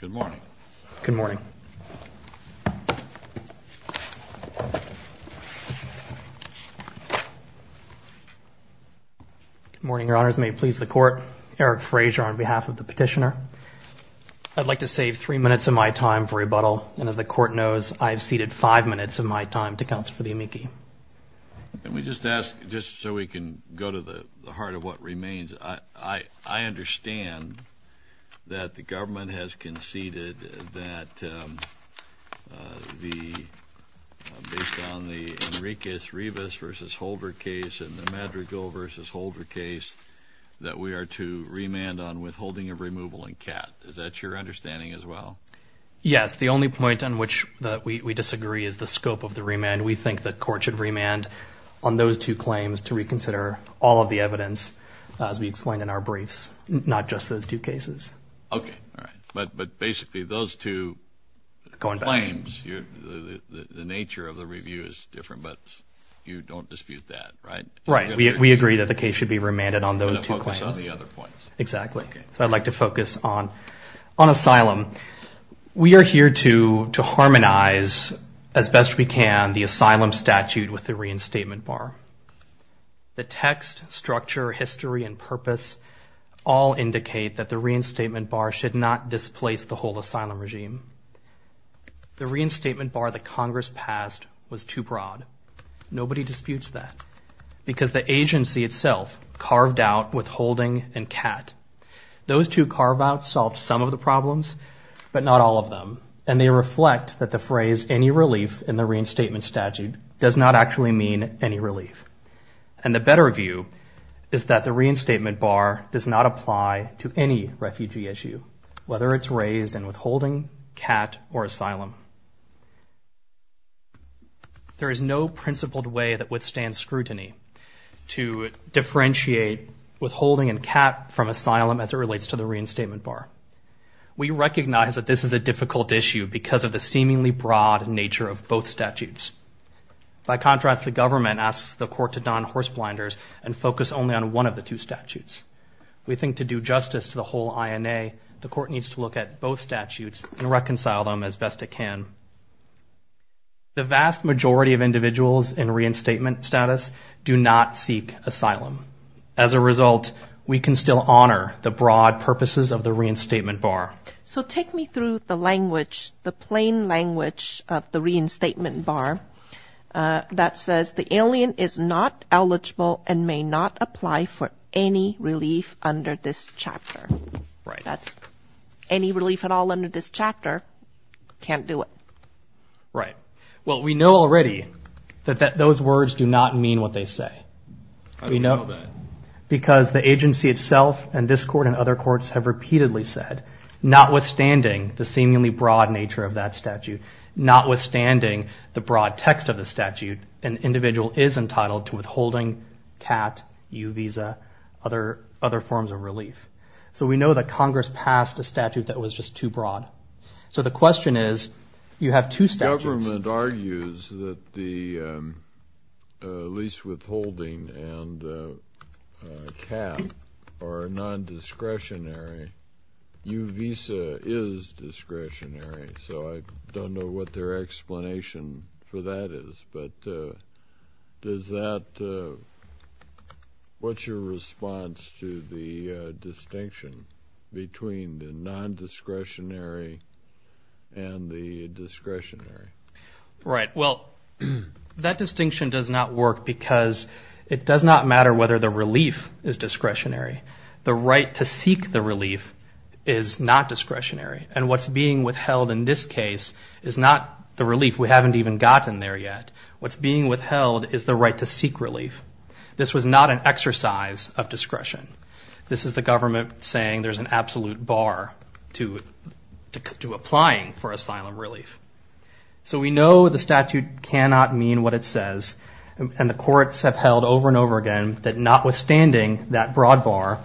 Good morning. Good morning. Good morning, your honors. May it please the court. Eric Frazier on behalf of the petitioner. I'd like to save three minutes of my time for rebuttal. And as the court knows, I've ceded five minutes of my time to counsel for the amici. Let me just ask, just so we can go to the heart of what remains, I understand that the government has conceded that based on the Enriquez-Rivas v. Holder case and the Madrigal v. Holder case, that we are to remand on withholding of removal in CAT. Is that your understanding as well? Yes. The only point on which we disagree is the scope of the remand. We think the court should remand on those two claims to reconsider all of the evidence as we explained in our briefs, not just those two cases. Okay. All right. But basically those two claims, the nature of the review is different, but you don't dispute that, right? Right. We agree that the case should be remanded on those two claims. You're going to focus on the other points. Exactly. Okay. So I'd like to focus on asylum. We are here to harmonize, as best we can, the asylum statute with the reinstatement bar. The text, structure, history, and purpose all indicate that the reinstatement bar should not displace the whole asylum regime. The reinstatement bar that Congress passed was too broad. Nobody disputes that because the agency itself carved out withholding and CAT. Those two carve-outs solved some of the problems, but not all of does not actually mean any relief. And the better view is that the reinstatement bar does not apply to any refugee issue, whether it's raised and withholding, CAT, or asylum. There is no principled way that withstands scrutiny to differentiate withholding and CAT from asylum as it relates to the reinstatement bar. We recognize that this is a difficult issue because of the seemingly broad nature of both statutes. By contrast, the government asks the court to don horse blinders and focus only on one of the two statutes. We think to do justice to the whole INA, the court needs to look at both statutes and reconcile them as best it can. The vast majority of individuals in reinstatement status do not seek asylum. As a result, we can still honor the broad purposes of the reinstatement bar. So take me through the language, the plain language of the reinstatement bar that says the alien is not eligible and may not apply for any relief under this chapter. Right. Any relief at all under this chapter, can't do it. Right. Well, we know already that those words do not mean what they say. How do you know that? Because the agency itself and this court and other courts have repeatedly said, notwithstanding the seemingly broad nature of that statute, notwithstanding the broad text of the statute, an individual is entitled to withholding, CAT, U visa, other forms of relief. So we know that Congress passed a statute that was just too broad. So the question is, you have two statutes. The government argues that the lease withholding and CAT are non-discretionary. U visa is discretionary. So I don't know what their explanation for that is. But does that, what's your response to the distinction between the non-discretionary and the discretionary? Right. Well, that distinction does not work because it does not matter whether the relief is discretionary. The right to seek the relief is not discretionary. And what's being withheld in this case is not the relief. We haven't even gotten there yet. What's being withheld is the right to seek relief. This was not an exercise of discretion. This is the government saying there's an absolute bar to applying for asylum relief. So we know the statute cannot mean what it says. And the courts have held over and over again that notwithstanding that broad bar,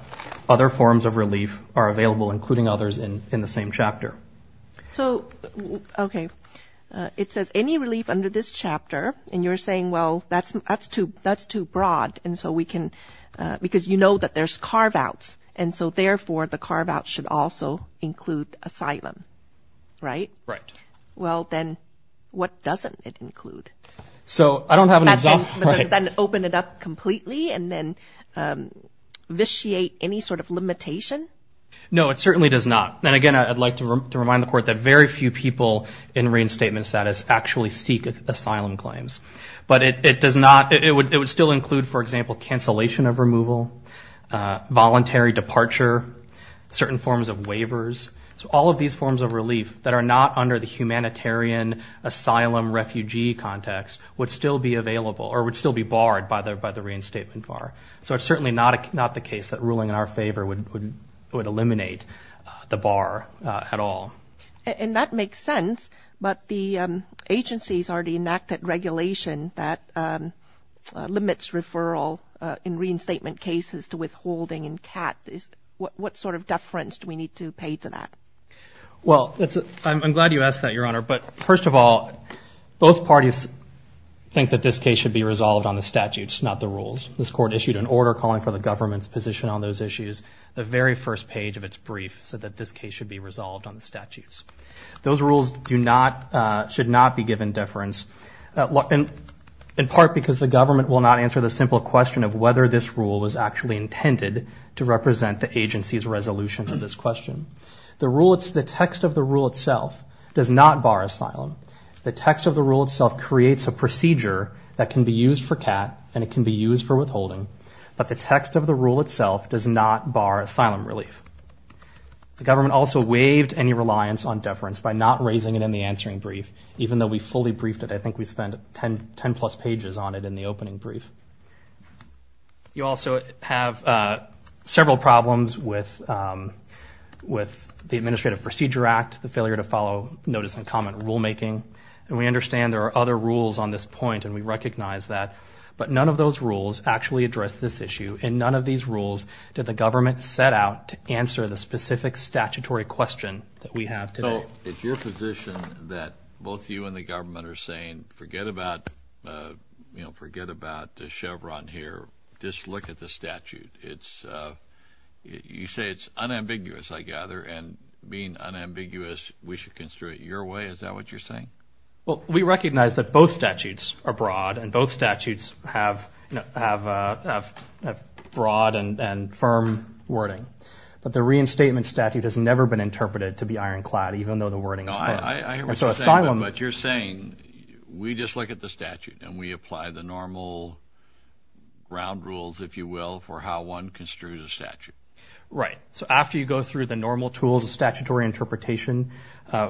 other forms of relief are available, including others in the same chapter. So, OK, it says any relief under this chapter. And you're saying, well, that's that's too that's too broad. And so we can because you know that there's carve outs. And so therefore the carve out should also include asylum. Right. Right. Well, then what doesn't it include? So I don't have an example. Then open it up completely and then vitiate any sort of limitation. No, it certainly does not. And again, I'd like to remind the court that very few people in reinstatement status actually seek asylum claims. But it does not it would it would still include, for example, cancellation of removal, voluntary departure, certain forms of waivers. So all of these forms of relief that are not under the humanitarian asylum refugee context would still be available or would still be barred by the by the reinstatement bar. So it's certainly not not the case that ruling in our favor would would eliminate the bar at all. And that makes sense. But the agencies already enacted regulation that limits referral in reinstatement cases to withholding and cat. What sort of deference do we need to pay to that? Well, I'm glad you asked that, Your Honor. But first of all, both parties think that this case should be resolved on the statutes, not the rules. This court issued an order calling for the government's position on those issues. The very first page of its brief said that this case should be resolved on the statutes. Those rules do not should not be given deference in part because the government will not answer the simple question of whether this rule was actually intended to represent the agency's resolution to this question. The rule it's the text of the rule itself does not bar asylum. The text of the rule itself creates a procedure that can be used for cat and it can be used for withholding. But the text of the rule itself does not bar asylum relief. The government also waived any reliance on deference by not raising it in the answering brief, even though we fully briefed it. I think we spent ten ten plus pages on it in the opening brief. You also have several problems with with the Administrative Procedure Act, the failure to follow notice and comment rulemaking. And we understand there are other rules on this issue. And none of these rules did the government set out to answer the specific statutory question that we have today. It's your position that both you and the government are saying, forget about you know, forget about Chevron here. Just look at the statute. It's you say it's unambiguous, I gather. And being unambiguous, we should consider it your way. Is that what you're saying? Well, we recognize that both statutes are broad and both statutes have have a broad and firm wording. But the reinstatement statute has never been interpreted to be ironclad, even though the wording is clear. I hear what you're saying, but you're saying we just look at the statute and we apply the normal ground rules, if you will, for how one construes a statute. Right. So after you go through the normal tools of statutory interpretation,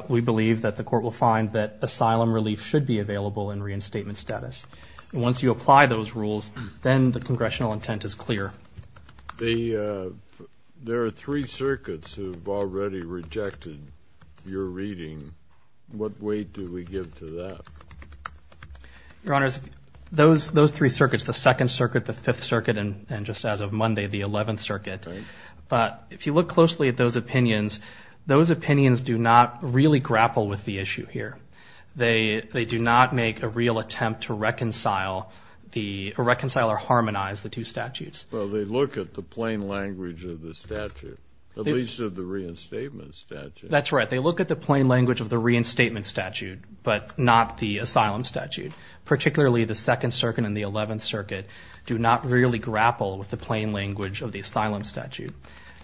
we believe that the court will find that asylum relief should be available in reinstatement status. And once you apply those rules, then the congressional intent is clear. There are three circuits who've already rejected your reading. What weight do we give to that? Your honors, those those three circuits, the Second Circuit, the Fifth Circuit, and just as of Monday, the Eleventh Circuit. But if you look closely at those opinions, those opinions do not really grapple with the issue here. They they do not make a real attempt to reconcile the reconcile or harmonize the two statutes. Well, they look at the plain language of the statute, at least of the reinstatement statute. That's right. They look at the plain language of the reinstatement statute, but not the asylum statute, particularly the Second Circuit and the Eleventh Circuit do not really grapple with the plain language of the asylum statute.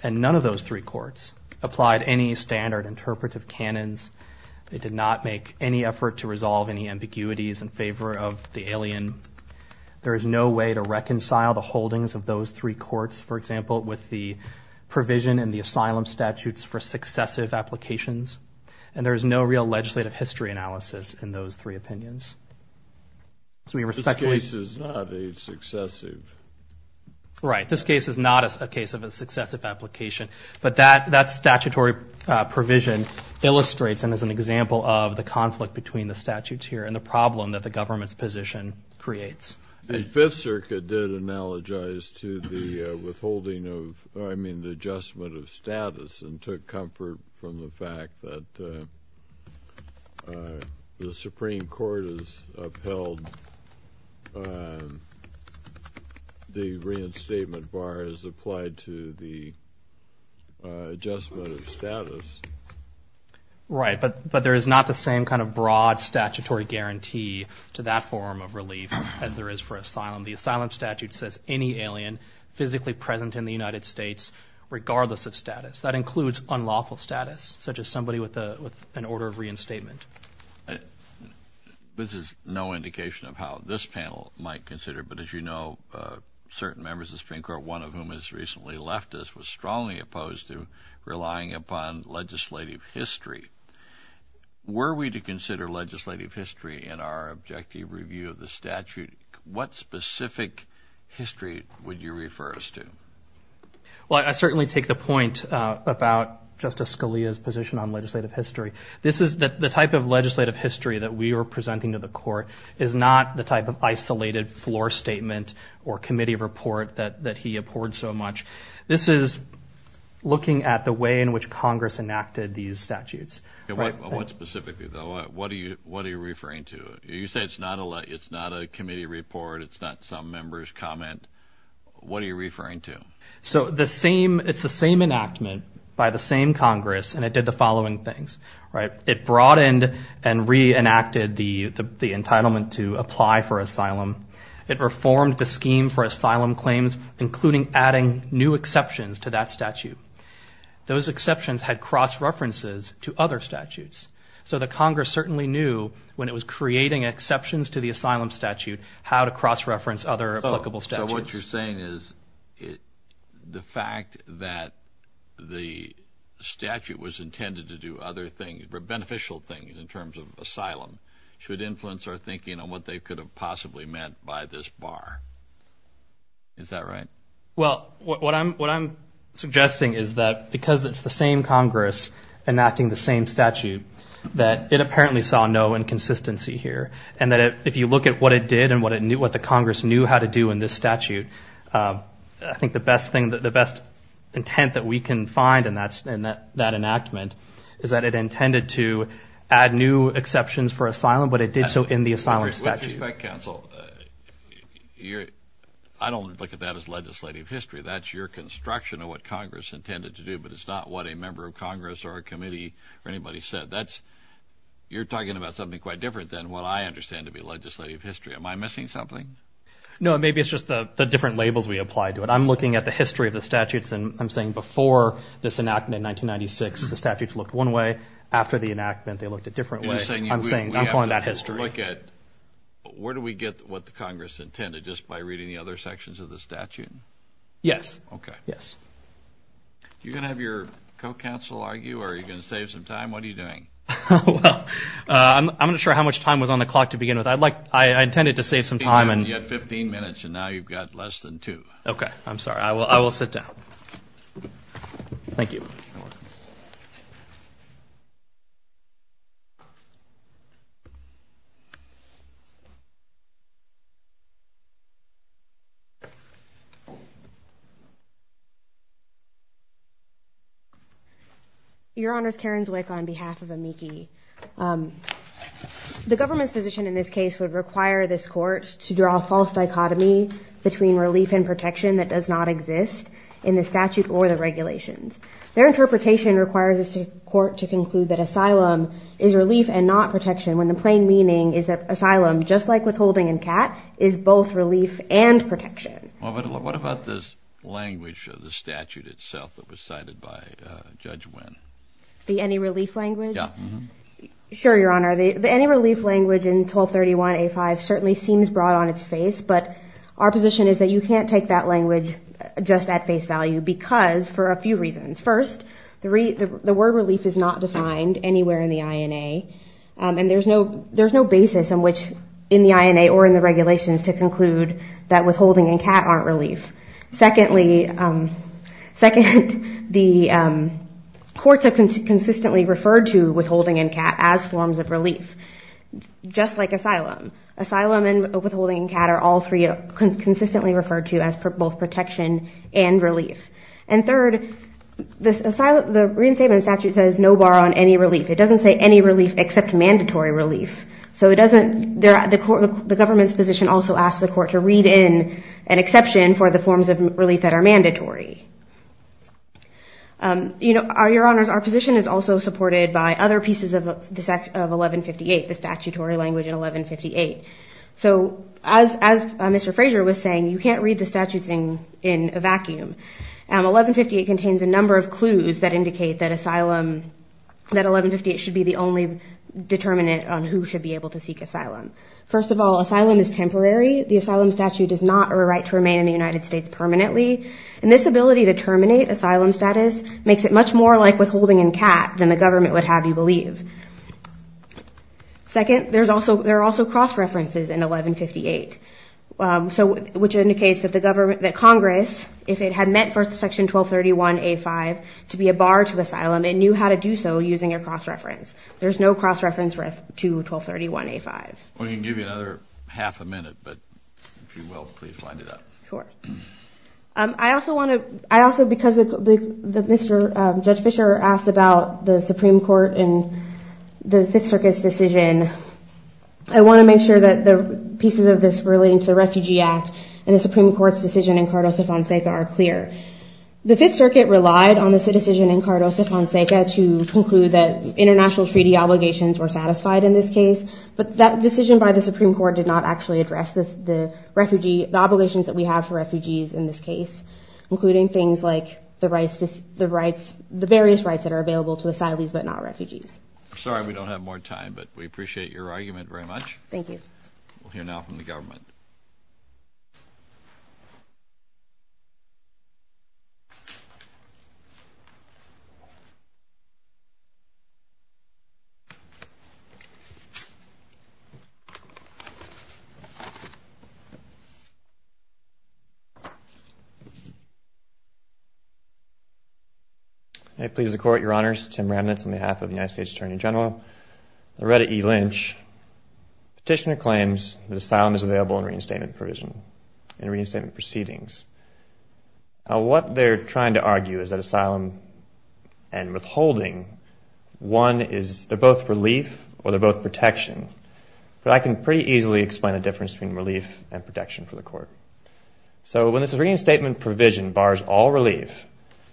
None of those three courts applied any standard interpretive canons. They did not make any effort to resolve any ambiguities in favor of the alien. There is no way to reconcile the holdings of those three courts, for example, with the provision in the asylum statutes for successive applications. And there is no real legislative history analysis in those three opinions. So we respect cases, not a successive. Right. This case is not a case of a successive application. But that that statutory provision illustrates and is an example of the conflict between the statutes here and the problem that the government's position creates. And Fifth Circuit did analogize to the withholding of, I mean, the adjustment of status and took comfort from the fact that the Supreme Court has upheld the reinstatement bar as applied to the adjustment of status. Right. But but there is not the same kind of broad statutory guarantee to that form of relief as there is for asylum. The asylum statute says any alien physically present in the United States, regardless of status, that includes unlawful status, such as somebody with an order of reinstatement. This is no indication of how this panel might consider. But as you know, certain members of Supreme Court, one of whom has recently left us, was strongly opposed to relying upon legislative history. Were we to consider legislative history in our objective review of the statute, what specific history would you refer us to? Well, I certainly take the point about Justice Scalia's position on legislative history. This is the type of legislative history that we are presenting to the court is not the type of isolated floor statement or committee report that that he abhorred so much. This is looking at the way in which Congress enacted these statutes. What specifically, though? What do you what are you referring to? You say it's not a it's not a committee report. It's not some members comment. What are you referring to? So the same it's the same enactment by the same Congress. And it did the following things. Right. It the entitlement to apply for asylum. It reformed the scheme for asylum claims, including adding new exceptions to that statute. Those exceptions had cross references to other statutes. So the Congress certainly knew when it was creating exceptions to the asylum statute, how to cross reference other applicable. So what you're saying is it the fact that the statute was thinking on what they could have possibly meant by this bar. Is that right? Well, what I'm what I'm suggesting is that because it's the same Congress enacting the same statute, that it apparently saw no inconsistency here. And that if you look at what it did and what it knew, what the Congress knew how to do in this statute, I think the best thing that the best intent that we can find in that in that enactment is that it intended to add new exceptions for asylum, but it did so in the asylum statute. With respect counsel, I don't look at that as legislative history. That's your construction of what Congress intended to do. But it's not what a member of Congress or a committee or anybody said. That's you're talking about something quite different than what I understand to be legislative history. Am I missing something? No, maybe it's just the different labels we apply to it. I'm looking at the history of the statutes. And I'm saying before this enactment in 1996, the statutes looked one way. After the enactment, they looked a history. Where do we get what the Congress intended? Just by reading the other sections of the statute? Yes. Okay. Yes. You're going to have your co-counsel argue or are you going to save some time? What are you doing? I'm not sure how much time was on the clock to begin with. I'd like, I intended to save some time. And you have 15 minutes and now you've got less than two. Okay, I'm sorry. I will. I will sit down. Thank you. Your Honor's Karen's awake on behalf of a Mickey. The government's position in this case would require this court to draw a false dichotomy between relief and protection that does not exist in the statute or the regulations. Their interpretation requires this court to conclude that asylum is relief and not protection when the plain meaning is that asylum, just like withholding and cat, is both relief and protection. What about this language of the statute itself that was cited by Judge Wynn? The any relief language? Yeah. Sure, Your Honor. The any relief language in 1231A5 certainly seems broad on its face, but our position is that you can't take that language just at face value because for a few reasons. First, the word relief is not defined anywhere in the INA and there's no basis in which in the INA or in the regulations to conclude that withholding and cat aren't relief. Secondly, the courts have consistently referred to withholding and cat as forms of relief, just like withholding and cat are all three consistently referred to as both protection and relief. And third, the reinstatement statute says no bar on any relief. It doesn't say any relief except mandatory relief. So it doesn't, the government's position also asks the court to read in an exception for the forms of relief that are mandatory. You know, Your Honors, our position is also supported by other pieces of 1158, the statutory language in 1158. So as Mr. Fraser was saying, you can't read the statutes in a vacuum. 1158 contains a number of clues that indicate that asylum, that 1158 should be the only determinant on who should be able to seek asylum. First of all, asylum is temporary. The asylum statute is not a right to remain in the United States permanently, and this ability to terminate asylum status makes it much more like withholding and cat than the government would have you believe. Second, there's also, there are also cross-references in 1158. So, which indicates that the government, that Congress, if it had meant for Section 1231A5 to be a bar to asylum, it knew how to do so using a cross-reference. There's no cross-reference to 1231A5. We can give you another half a minute, but if you will, please wind it up. Sure. I also want to, I also, because Mr., Judge Fischer asked about the Supreme Court and the Fifth Circuit's decision, I want to make sure that the pieces of this relating to the Refugee Act and the Supreme Court's decision in Cardozo-Fonseca are clear. The Fifth Circuit relied on this decision in Cardozo-Fonseca to conclude that international treaty obligations were satisfied in this case, but that decision by the Supreme Court did not actually address the refugee, the obligations that we have for refugees in this case, including things like the rights, the rights, the various rights that are available to asylees but not refugees. Sorry we don't have more time, but we appreciate your argument very much. Thank you. We'll hear now from the government. May it please the Court, Your Honors. Tim Remnitz on behalf of the United States Attorney General. Loretta E. Lynch. Petitioner claims that asylum is available in reinstatement provision, in reinstatement proceedings. Now what they're trying to argue is that asylum and withholding, one is, they're both relief or they're both protection, but I can pretty easily explain the difference between relief and protection for the Court. So when this reinstatement provision bars all relief,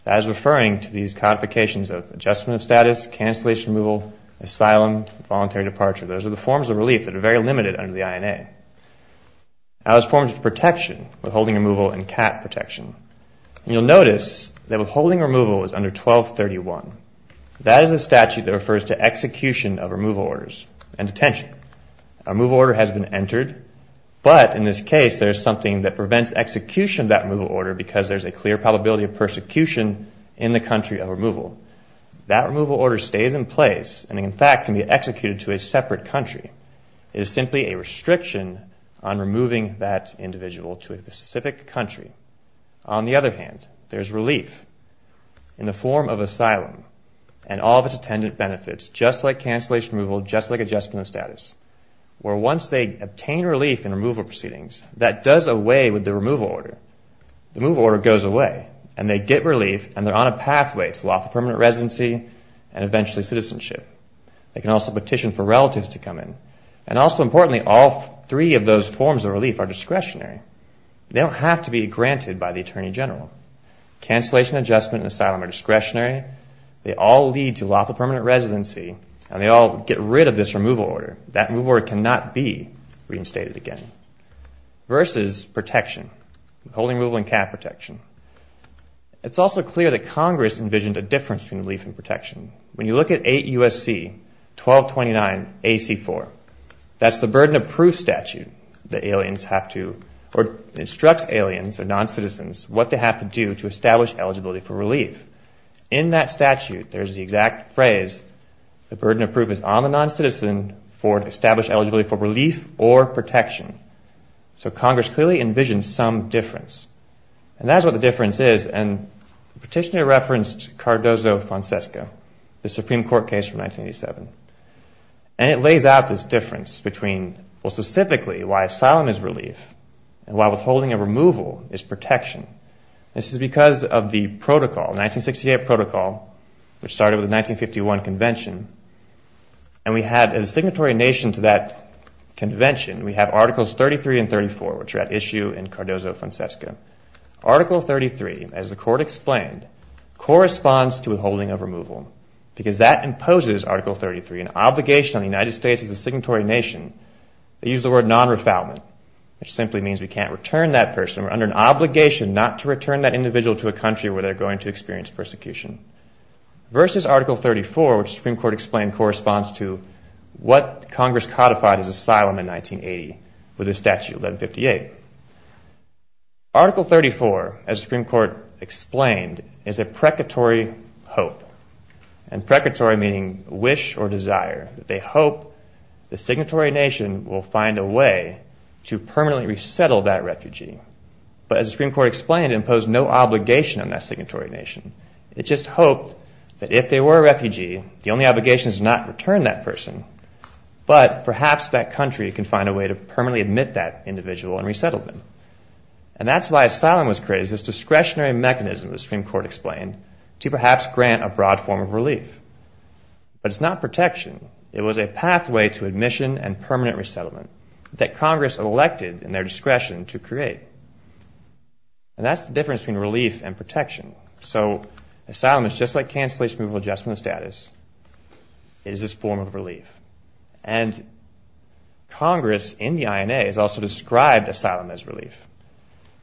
that is referring to these codifications of adjustment of status, cancellation of removal, asylum, voluntary departure. Those are the forms of relief that are very limited under the INA. Now there's forms of protection, withholding removal and cat protection. You'll notice that withholding removal is under 1231. That is a statute that refers to execution of removal order has been entered, but in this case there's something that prevents execution of that removal order because there's a clear probability of persecution in the country of removal. That removal order stays in place and in fact can be executed to a separate country. It is simply a restriction on removing that individual to a specific country. On the other hand, there's relief in the form of asylum and all of its attendant benefits, just like cancellation removal, just like adjustment of status, where once they obtain relief in removal proceedings, that does away with the removal order. The removal order goes away and they get relief and they're on a pathway to lawful permanent residency and eventually citizenship. They can also petition for relatives to come in and also importantly all three of those forms of relief are discretionary. They don't have to be granted by the Attorney General. Cancellation, adjustment and asylum are discretionary. They all lead to lawful permanent residency and they all get rid of this removal order. That removal order cannot be reinstated again. Versus protection, holding removal and cap protection. It's also clear that Congress envisioned a difference between relief and protection. When you look at 8 U.S.C. 1229 AC4, that's the burden of proof statute that aliens have to or instructs aliens or non-citizens what they have to do to establish eligibility for relief. In that statute, there's the exact phrase, the burden of proof is on the non-citizen for established eligibility for relief or protection. So Congress clearly envisioned some difference. And that's what the difference is and the petitioner referenced Cardozo-Francesco, the Supreme Court case from 1987. And it lays out this difference between, well specifically, why asylum is relief and why withholding of removal is protection. This is because of the protocol, 1968 protocol, which started with the 1951 convention. And we have as a signatory nation to that convention, we have Articles 33 and 34, which are at issue in Cardozo-Francesco. Article 33, as the court explained, corresponds to withholding of removal because that imposes Article 33, an obligation on the United States as a signatory nation. They use the word non-refoulement, which simply means we can't return that person. We're under an obligation not to return that individual to a country where they're going to experience persecution. Versus Article 34, which the Supreme Court explained corresponds to what Congress codified as asylum in 1980 with a statute, 1158. Article 34, as the Supreme Court explained, is a precatory hope. And precatory meaning wish or desire. They hope the signatory nation will find a way to permanently resettle that refugee. But as the Supreme Court explained, it imposed no obligation on that signatory nation. It just hoped that if they were a refugee, the only obligation is to not return that person. But perhaps that country can find a way to permanently admit that individual and to perhaps grant a broad form of relief. But it's not protection. It was a pathway to admission and permanent resettlement that Congress elected in their discretion to create. And that's the difference between relief and protection. So asylum is just like cancellation, removal, adjustment of status. It is this form of relief. And Congress in the INA has also described asylum as relief.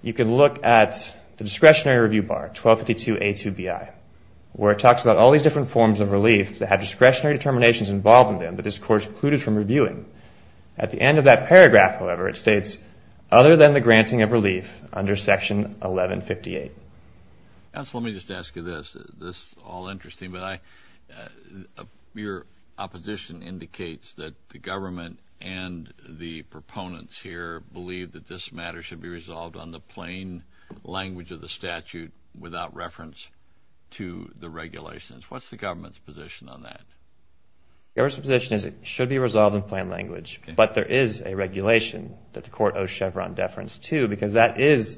You can look at the discretionary review bar, 1252A2B. Where it talks about all these different forms of relief that have discretionary determinations involved in them that this Court excluded from reviewing. At the end of that paragraph, however, it states, other than the granting of relief under Section 1158. Counsel, let me just ask you this. This is all interesting, but your opposition indicates that the government and the proponents here believe that this matter should be resolved on the plain language of the statute without reference to the regulations. What's the government's position on that? The government's position is it should be resolved in plain language. But there is a regulation that the Court owes Chevron deference to because that is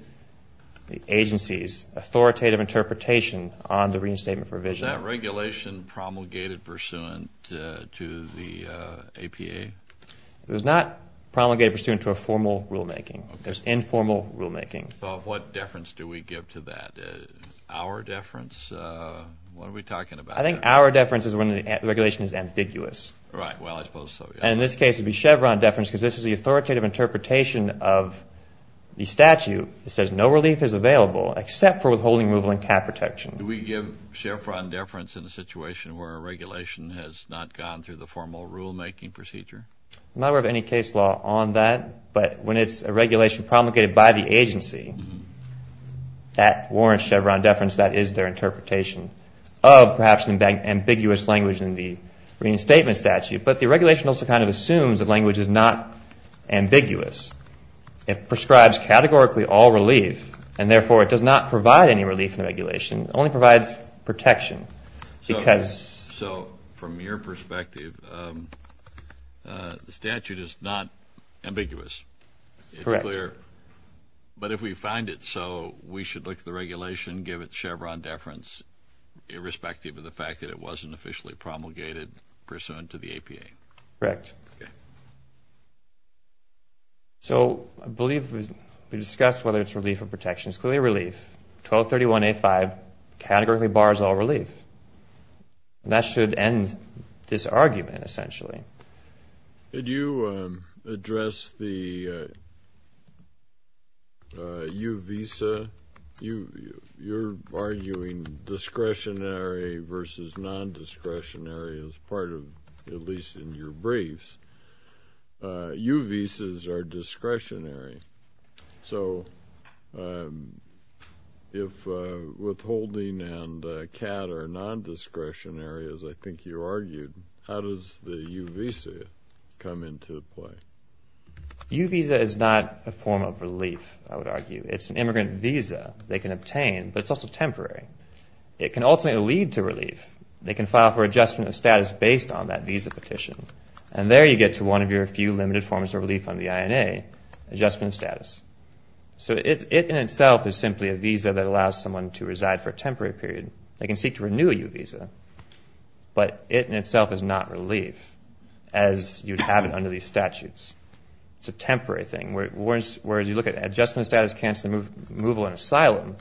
the agency's authoritative interpretation on the reinstatement provision. Was that regulation promulgated pursuant to the APA? It was not promulgated pursuant to a formal rulemaking. It was informal rulemaking. What deference do we give to that? Our deference? What are we talking about? I think our deference is when the regulation is ambiguous. Right. Well, I suppose so. And in this case, it would be Chevron deference because this is the authoritative interpretation of the statute that says no relief is available except for withholding removal and cap protection. Do we give Chevron deference in a situation where a regulation has not gone through the formal rulemaking procedure? I'm not aware of any case law on that. But when it's a regulation promulgated by the agency, that warrants Chevron deference. That is their interpretation of perhaps an ambiguous language in the reinstatement statute. But the regulation also kind of assumes that language is not ambiguous. It prescribes categorically all relief. And therefore, it does not provide any relief in the regulation. It only provides protection. So from your perspective, the statute is not ambiguous. Correct. It's clear. But if we find it so, we should look at the regulation and give it Chevron deference irrespective of the fact that it wasn't officially promulgated pursuant to the APA. Correct. So I believe we discussed whether it's relief or protection. It's clearly relief. 1231A5 categorically bars all relief. And that should end this argument, essentially. Did you address the U visa? You're arguing discretionary versus nondiscretionary as part of, at least in your briefs. U visas are discretionary. So if withholding and CAD are nondiscretionary, as I think you argued, how does the U visa come into play? U visa is not a form of relief, I would argue. It's an immigrant visa. They can obtain, but it's also temporary. It can ultimately lead to relief. They can file for adjustment of status based on that visa petition. And there you get to one of your few limited forms of relief under the INA, adjustment of status. So it in itself is simply a visa that allows someone to reside for a temporary period. They can seek to renew a U visa. But it in itself is not relief as you'd have it under these statutes. It's a temporary thing. Whereas you look at adjustment of status, cancel removal and asylum,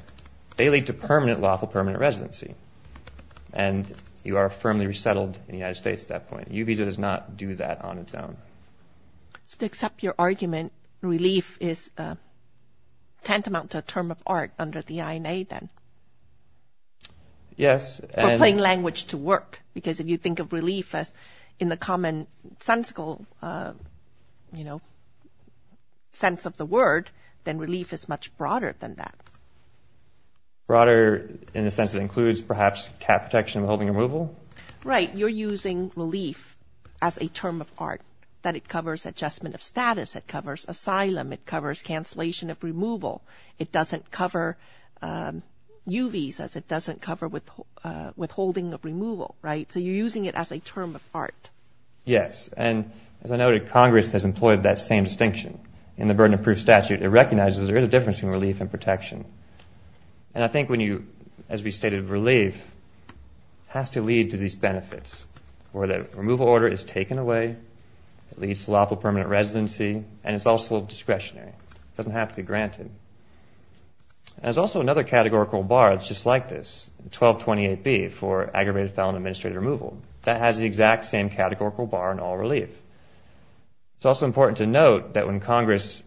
they lead to lawful permanent residency. And you are firmly resettled in the United States at that point. U visa does not do that on its own. So to accept your argument, relief is tantamount to a term of art under the INA then? Yes. For plain language to work. Because if you think of relief as in the common sensical, you know, sense of the word, then relief is much broader than that. Broader in the sense that it includes perhaps CAD protection and withholding removal? Right. You're using relief as a term of art. That it covers adjustment of status. It covers asylum. It covers cancellation of removal. It doesn't cover U visas. It doesn't cover withholding of removal. Right? So you're using it as a term of art. Yes. And as I noted, Congress has employed that same distinction in the burden of proof statute. It recognizes there is a difference between relief and protection. And I think when you, as we stated, relief has to lead to these benefits. Where the removal order is taken away. It leads to lawful permanent residency. And it's also discretionary. It doesn't have to be granted. And there's also another categorical bar that's just like this. 1228B for aggravated felon administrative removal. That has the exact same categorical bar in all relief. It's also important to note that when Congress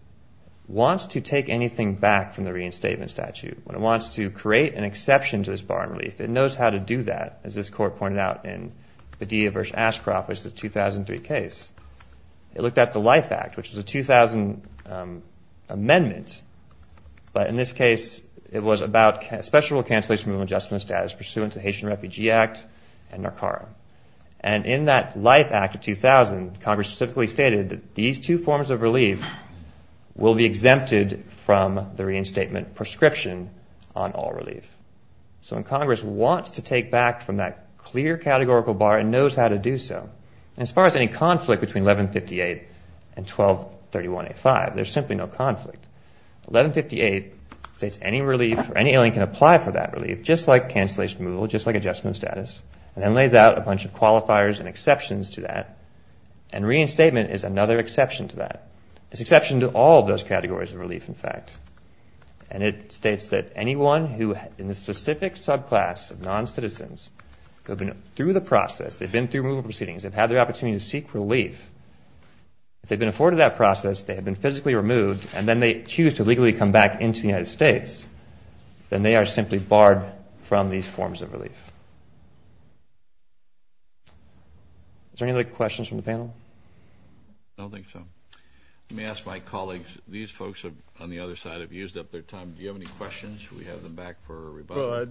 wants to take anything back from the reinstatement statute. When it wants to create an exception to this bar in relief. It knows how to do that. As this court pointed out in Padilla v. Ashcroft, which is the 2003 case. It looked at the Life Act, which is a 2000 amendment. But in this case, it was about special cancellation of adjustment of status pursuant to the Haitian Refugee Act and NARCARA. And in that Life Act of 2000, Congress specifically stated that these two forms of relief. Will be exempted from the reinstatement prescription on all relief. So when Congress wants to take back from that clear categorical bar. And knows how to do so. As far as any conflict between 1158 and 1231A5. There's simply no conflict. 1158 states any relief or any alien can apply for that relief. Just like cancellation removal. Just like adjustment of status. And then lays out a bunch of qualifiers and exceptions to that. And reinstatement is another exception to that. It's an exception to all those categories of relief in fact. And it states that anyone who in the specific subclass of non-citizens. Who have been through the process. They've been through removal proceedings. They've had their opportunity to seek relief. If they've been afforded that process. They have been physically removed. And then they choose to legally come back into the United States. Then they are simply barred from these forms of relief. Is there any other questions from the panel? I don't think so. Let me ask my colleagues. These folks on the other side have used up their time. Do you have any questions? We have them back for rebuttal.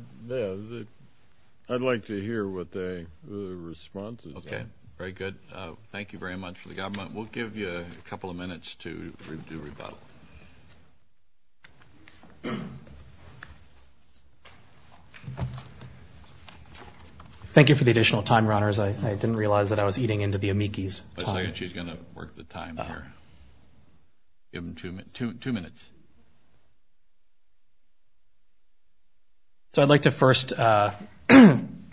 I'd like to hear what the response is. Okay. Very good. Thank you very much for the government. We'll give you a couple of minutes to do rebuttal. Thank you for the additional time, Your Honors. I didn't realize that I was eating into the amici's time. She's going to work the time here. Give them two minutes. So I'd like to first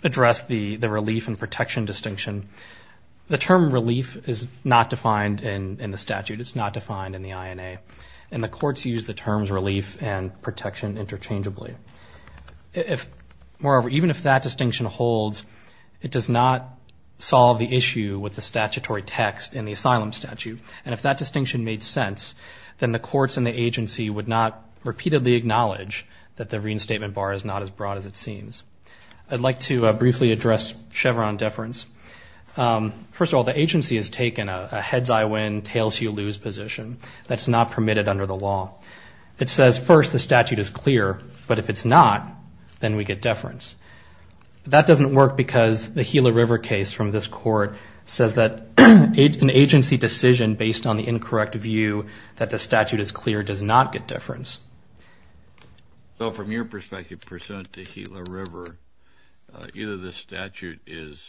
address the relief and protection distinction. The term relief is not defined in the statute. It's not defined in the INA. And the courts use the terms relief and protection interchangeably. Moreover, even if that distinction holds, it does not solve the issue with the statutory text in the asylum statute. And if that distinction made sense, then the courts and the agency would not repeatedly acknowledge that the reinstatement bar is not as broad as it seems. I'd like to briefly address Chevron deference. First of all, the agency has taken a heads-I-win, tails-you-lose position. That's not permitted under the law. It says, first, the statute is clear, but if it's not, then we get deference. That doesn't work because the Gila River case from this court says that an agency decision based on the incorrect view that the statute is clear does not get deference. So from your perspective, pursuant to Gila River, either the statute is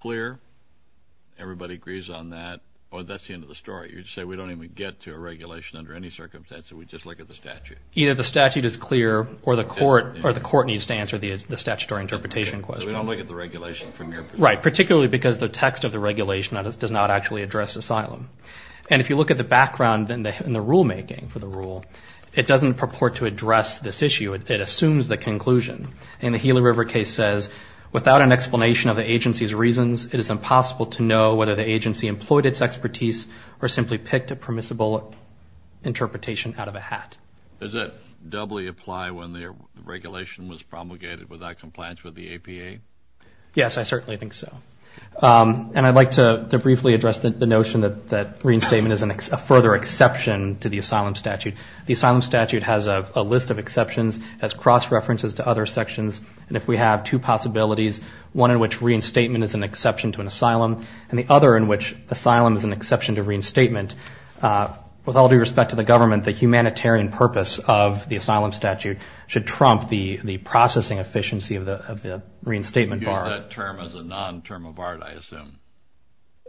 clear, everybody agrees on that, or that's the end of the story. But you're saying we don't even get to a regulation under any circumstance if we just look at the statute. Either the statute is clear or the court needs to answer the statutory interpretation question. So we don't look at the regulation from your perspective. Right, particularly because the text of the regulation does not actually address asylum. And if you look at the background in the rulemaking for the rule, it doesn't purport to address this issue. It assumes the conclusion. And the Gila River case says, without an explanation of the agency's reasons, it is impossible to know whether the agency employed its expertise or simply picked a permissible interpretation out of a hat. Does that doubly apply when the regulation was promulgated without compliance with the APA? Yes, I certainly think so. And I'd like to briefly address the notion that reinstatement is a further exception to the asylum statute. The asylum statute has a list of exceptions as cross-references to other sections. And if we have two possibilities, one in which reinstatement is an exception to an asylum and the other in which asylum is an exception to reinstatement, with all due respect to the government, the humanitarian purpose of the asylum statute should trump the processing efficiency of the reinstatement bar. You use that term as a non-term of art, I assume.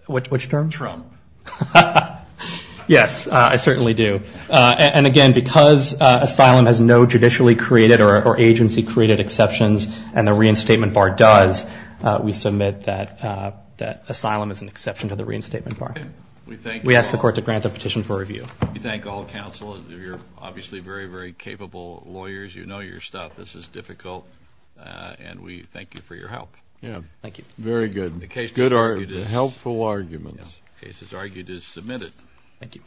Which term? Trump. Yes, I certainly do. And, again, because asylum has no judicially created or agency-created exceptions and the reinstatement bar does, we submit that asylum is an exception to the reinstatement bar. We ask the Court to grant the petition for review. We thank all counsel. You're obviously very, very capable lawyers. You know your stuff. This is difficult. And we thank you for your help. Thank you. Very good. The case is argued as submitted. Thank you.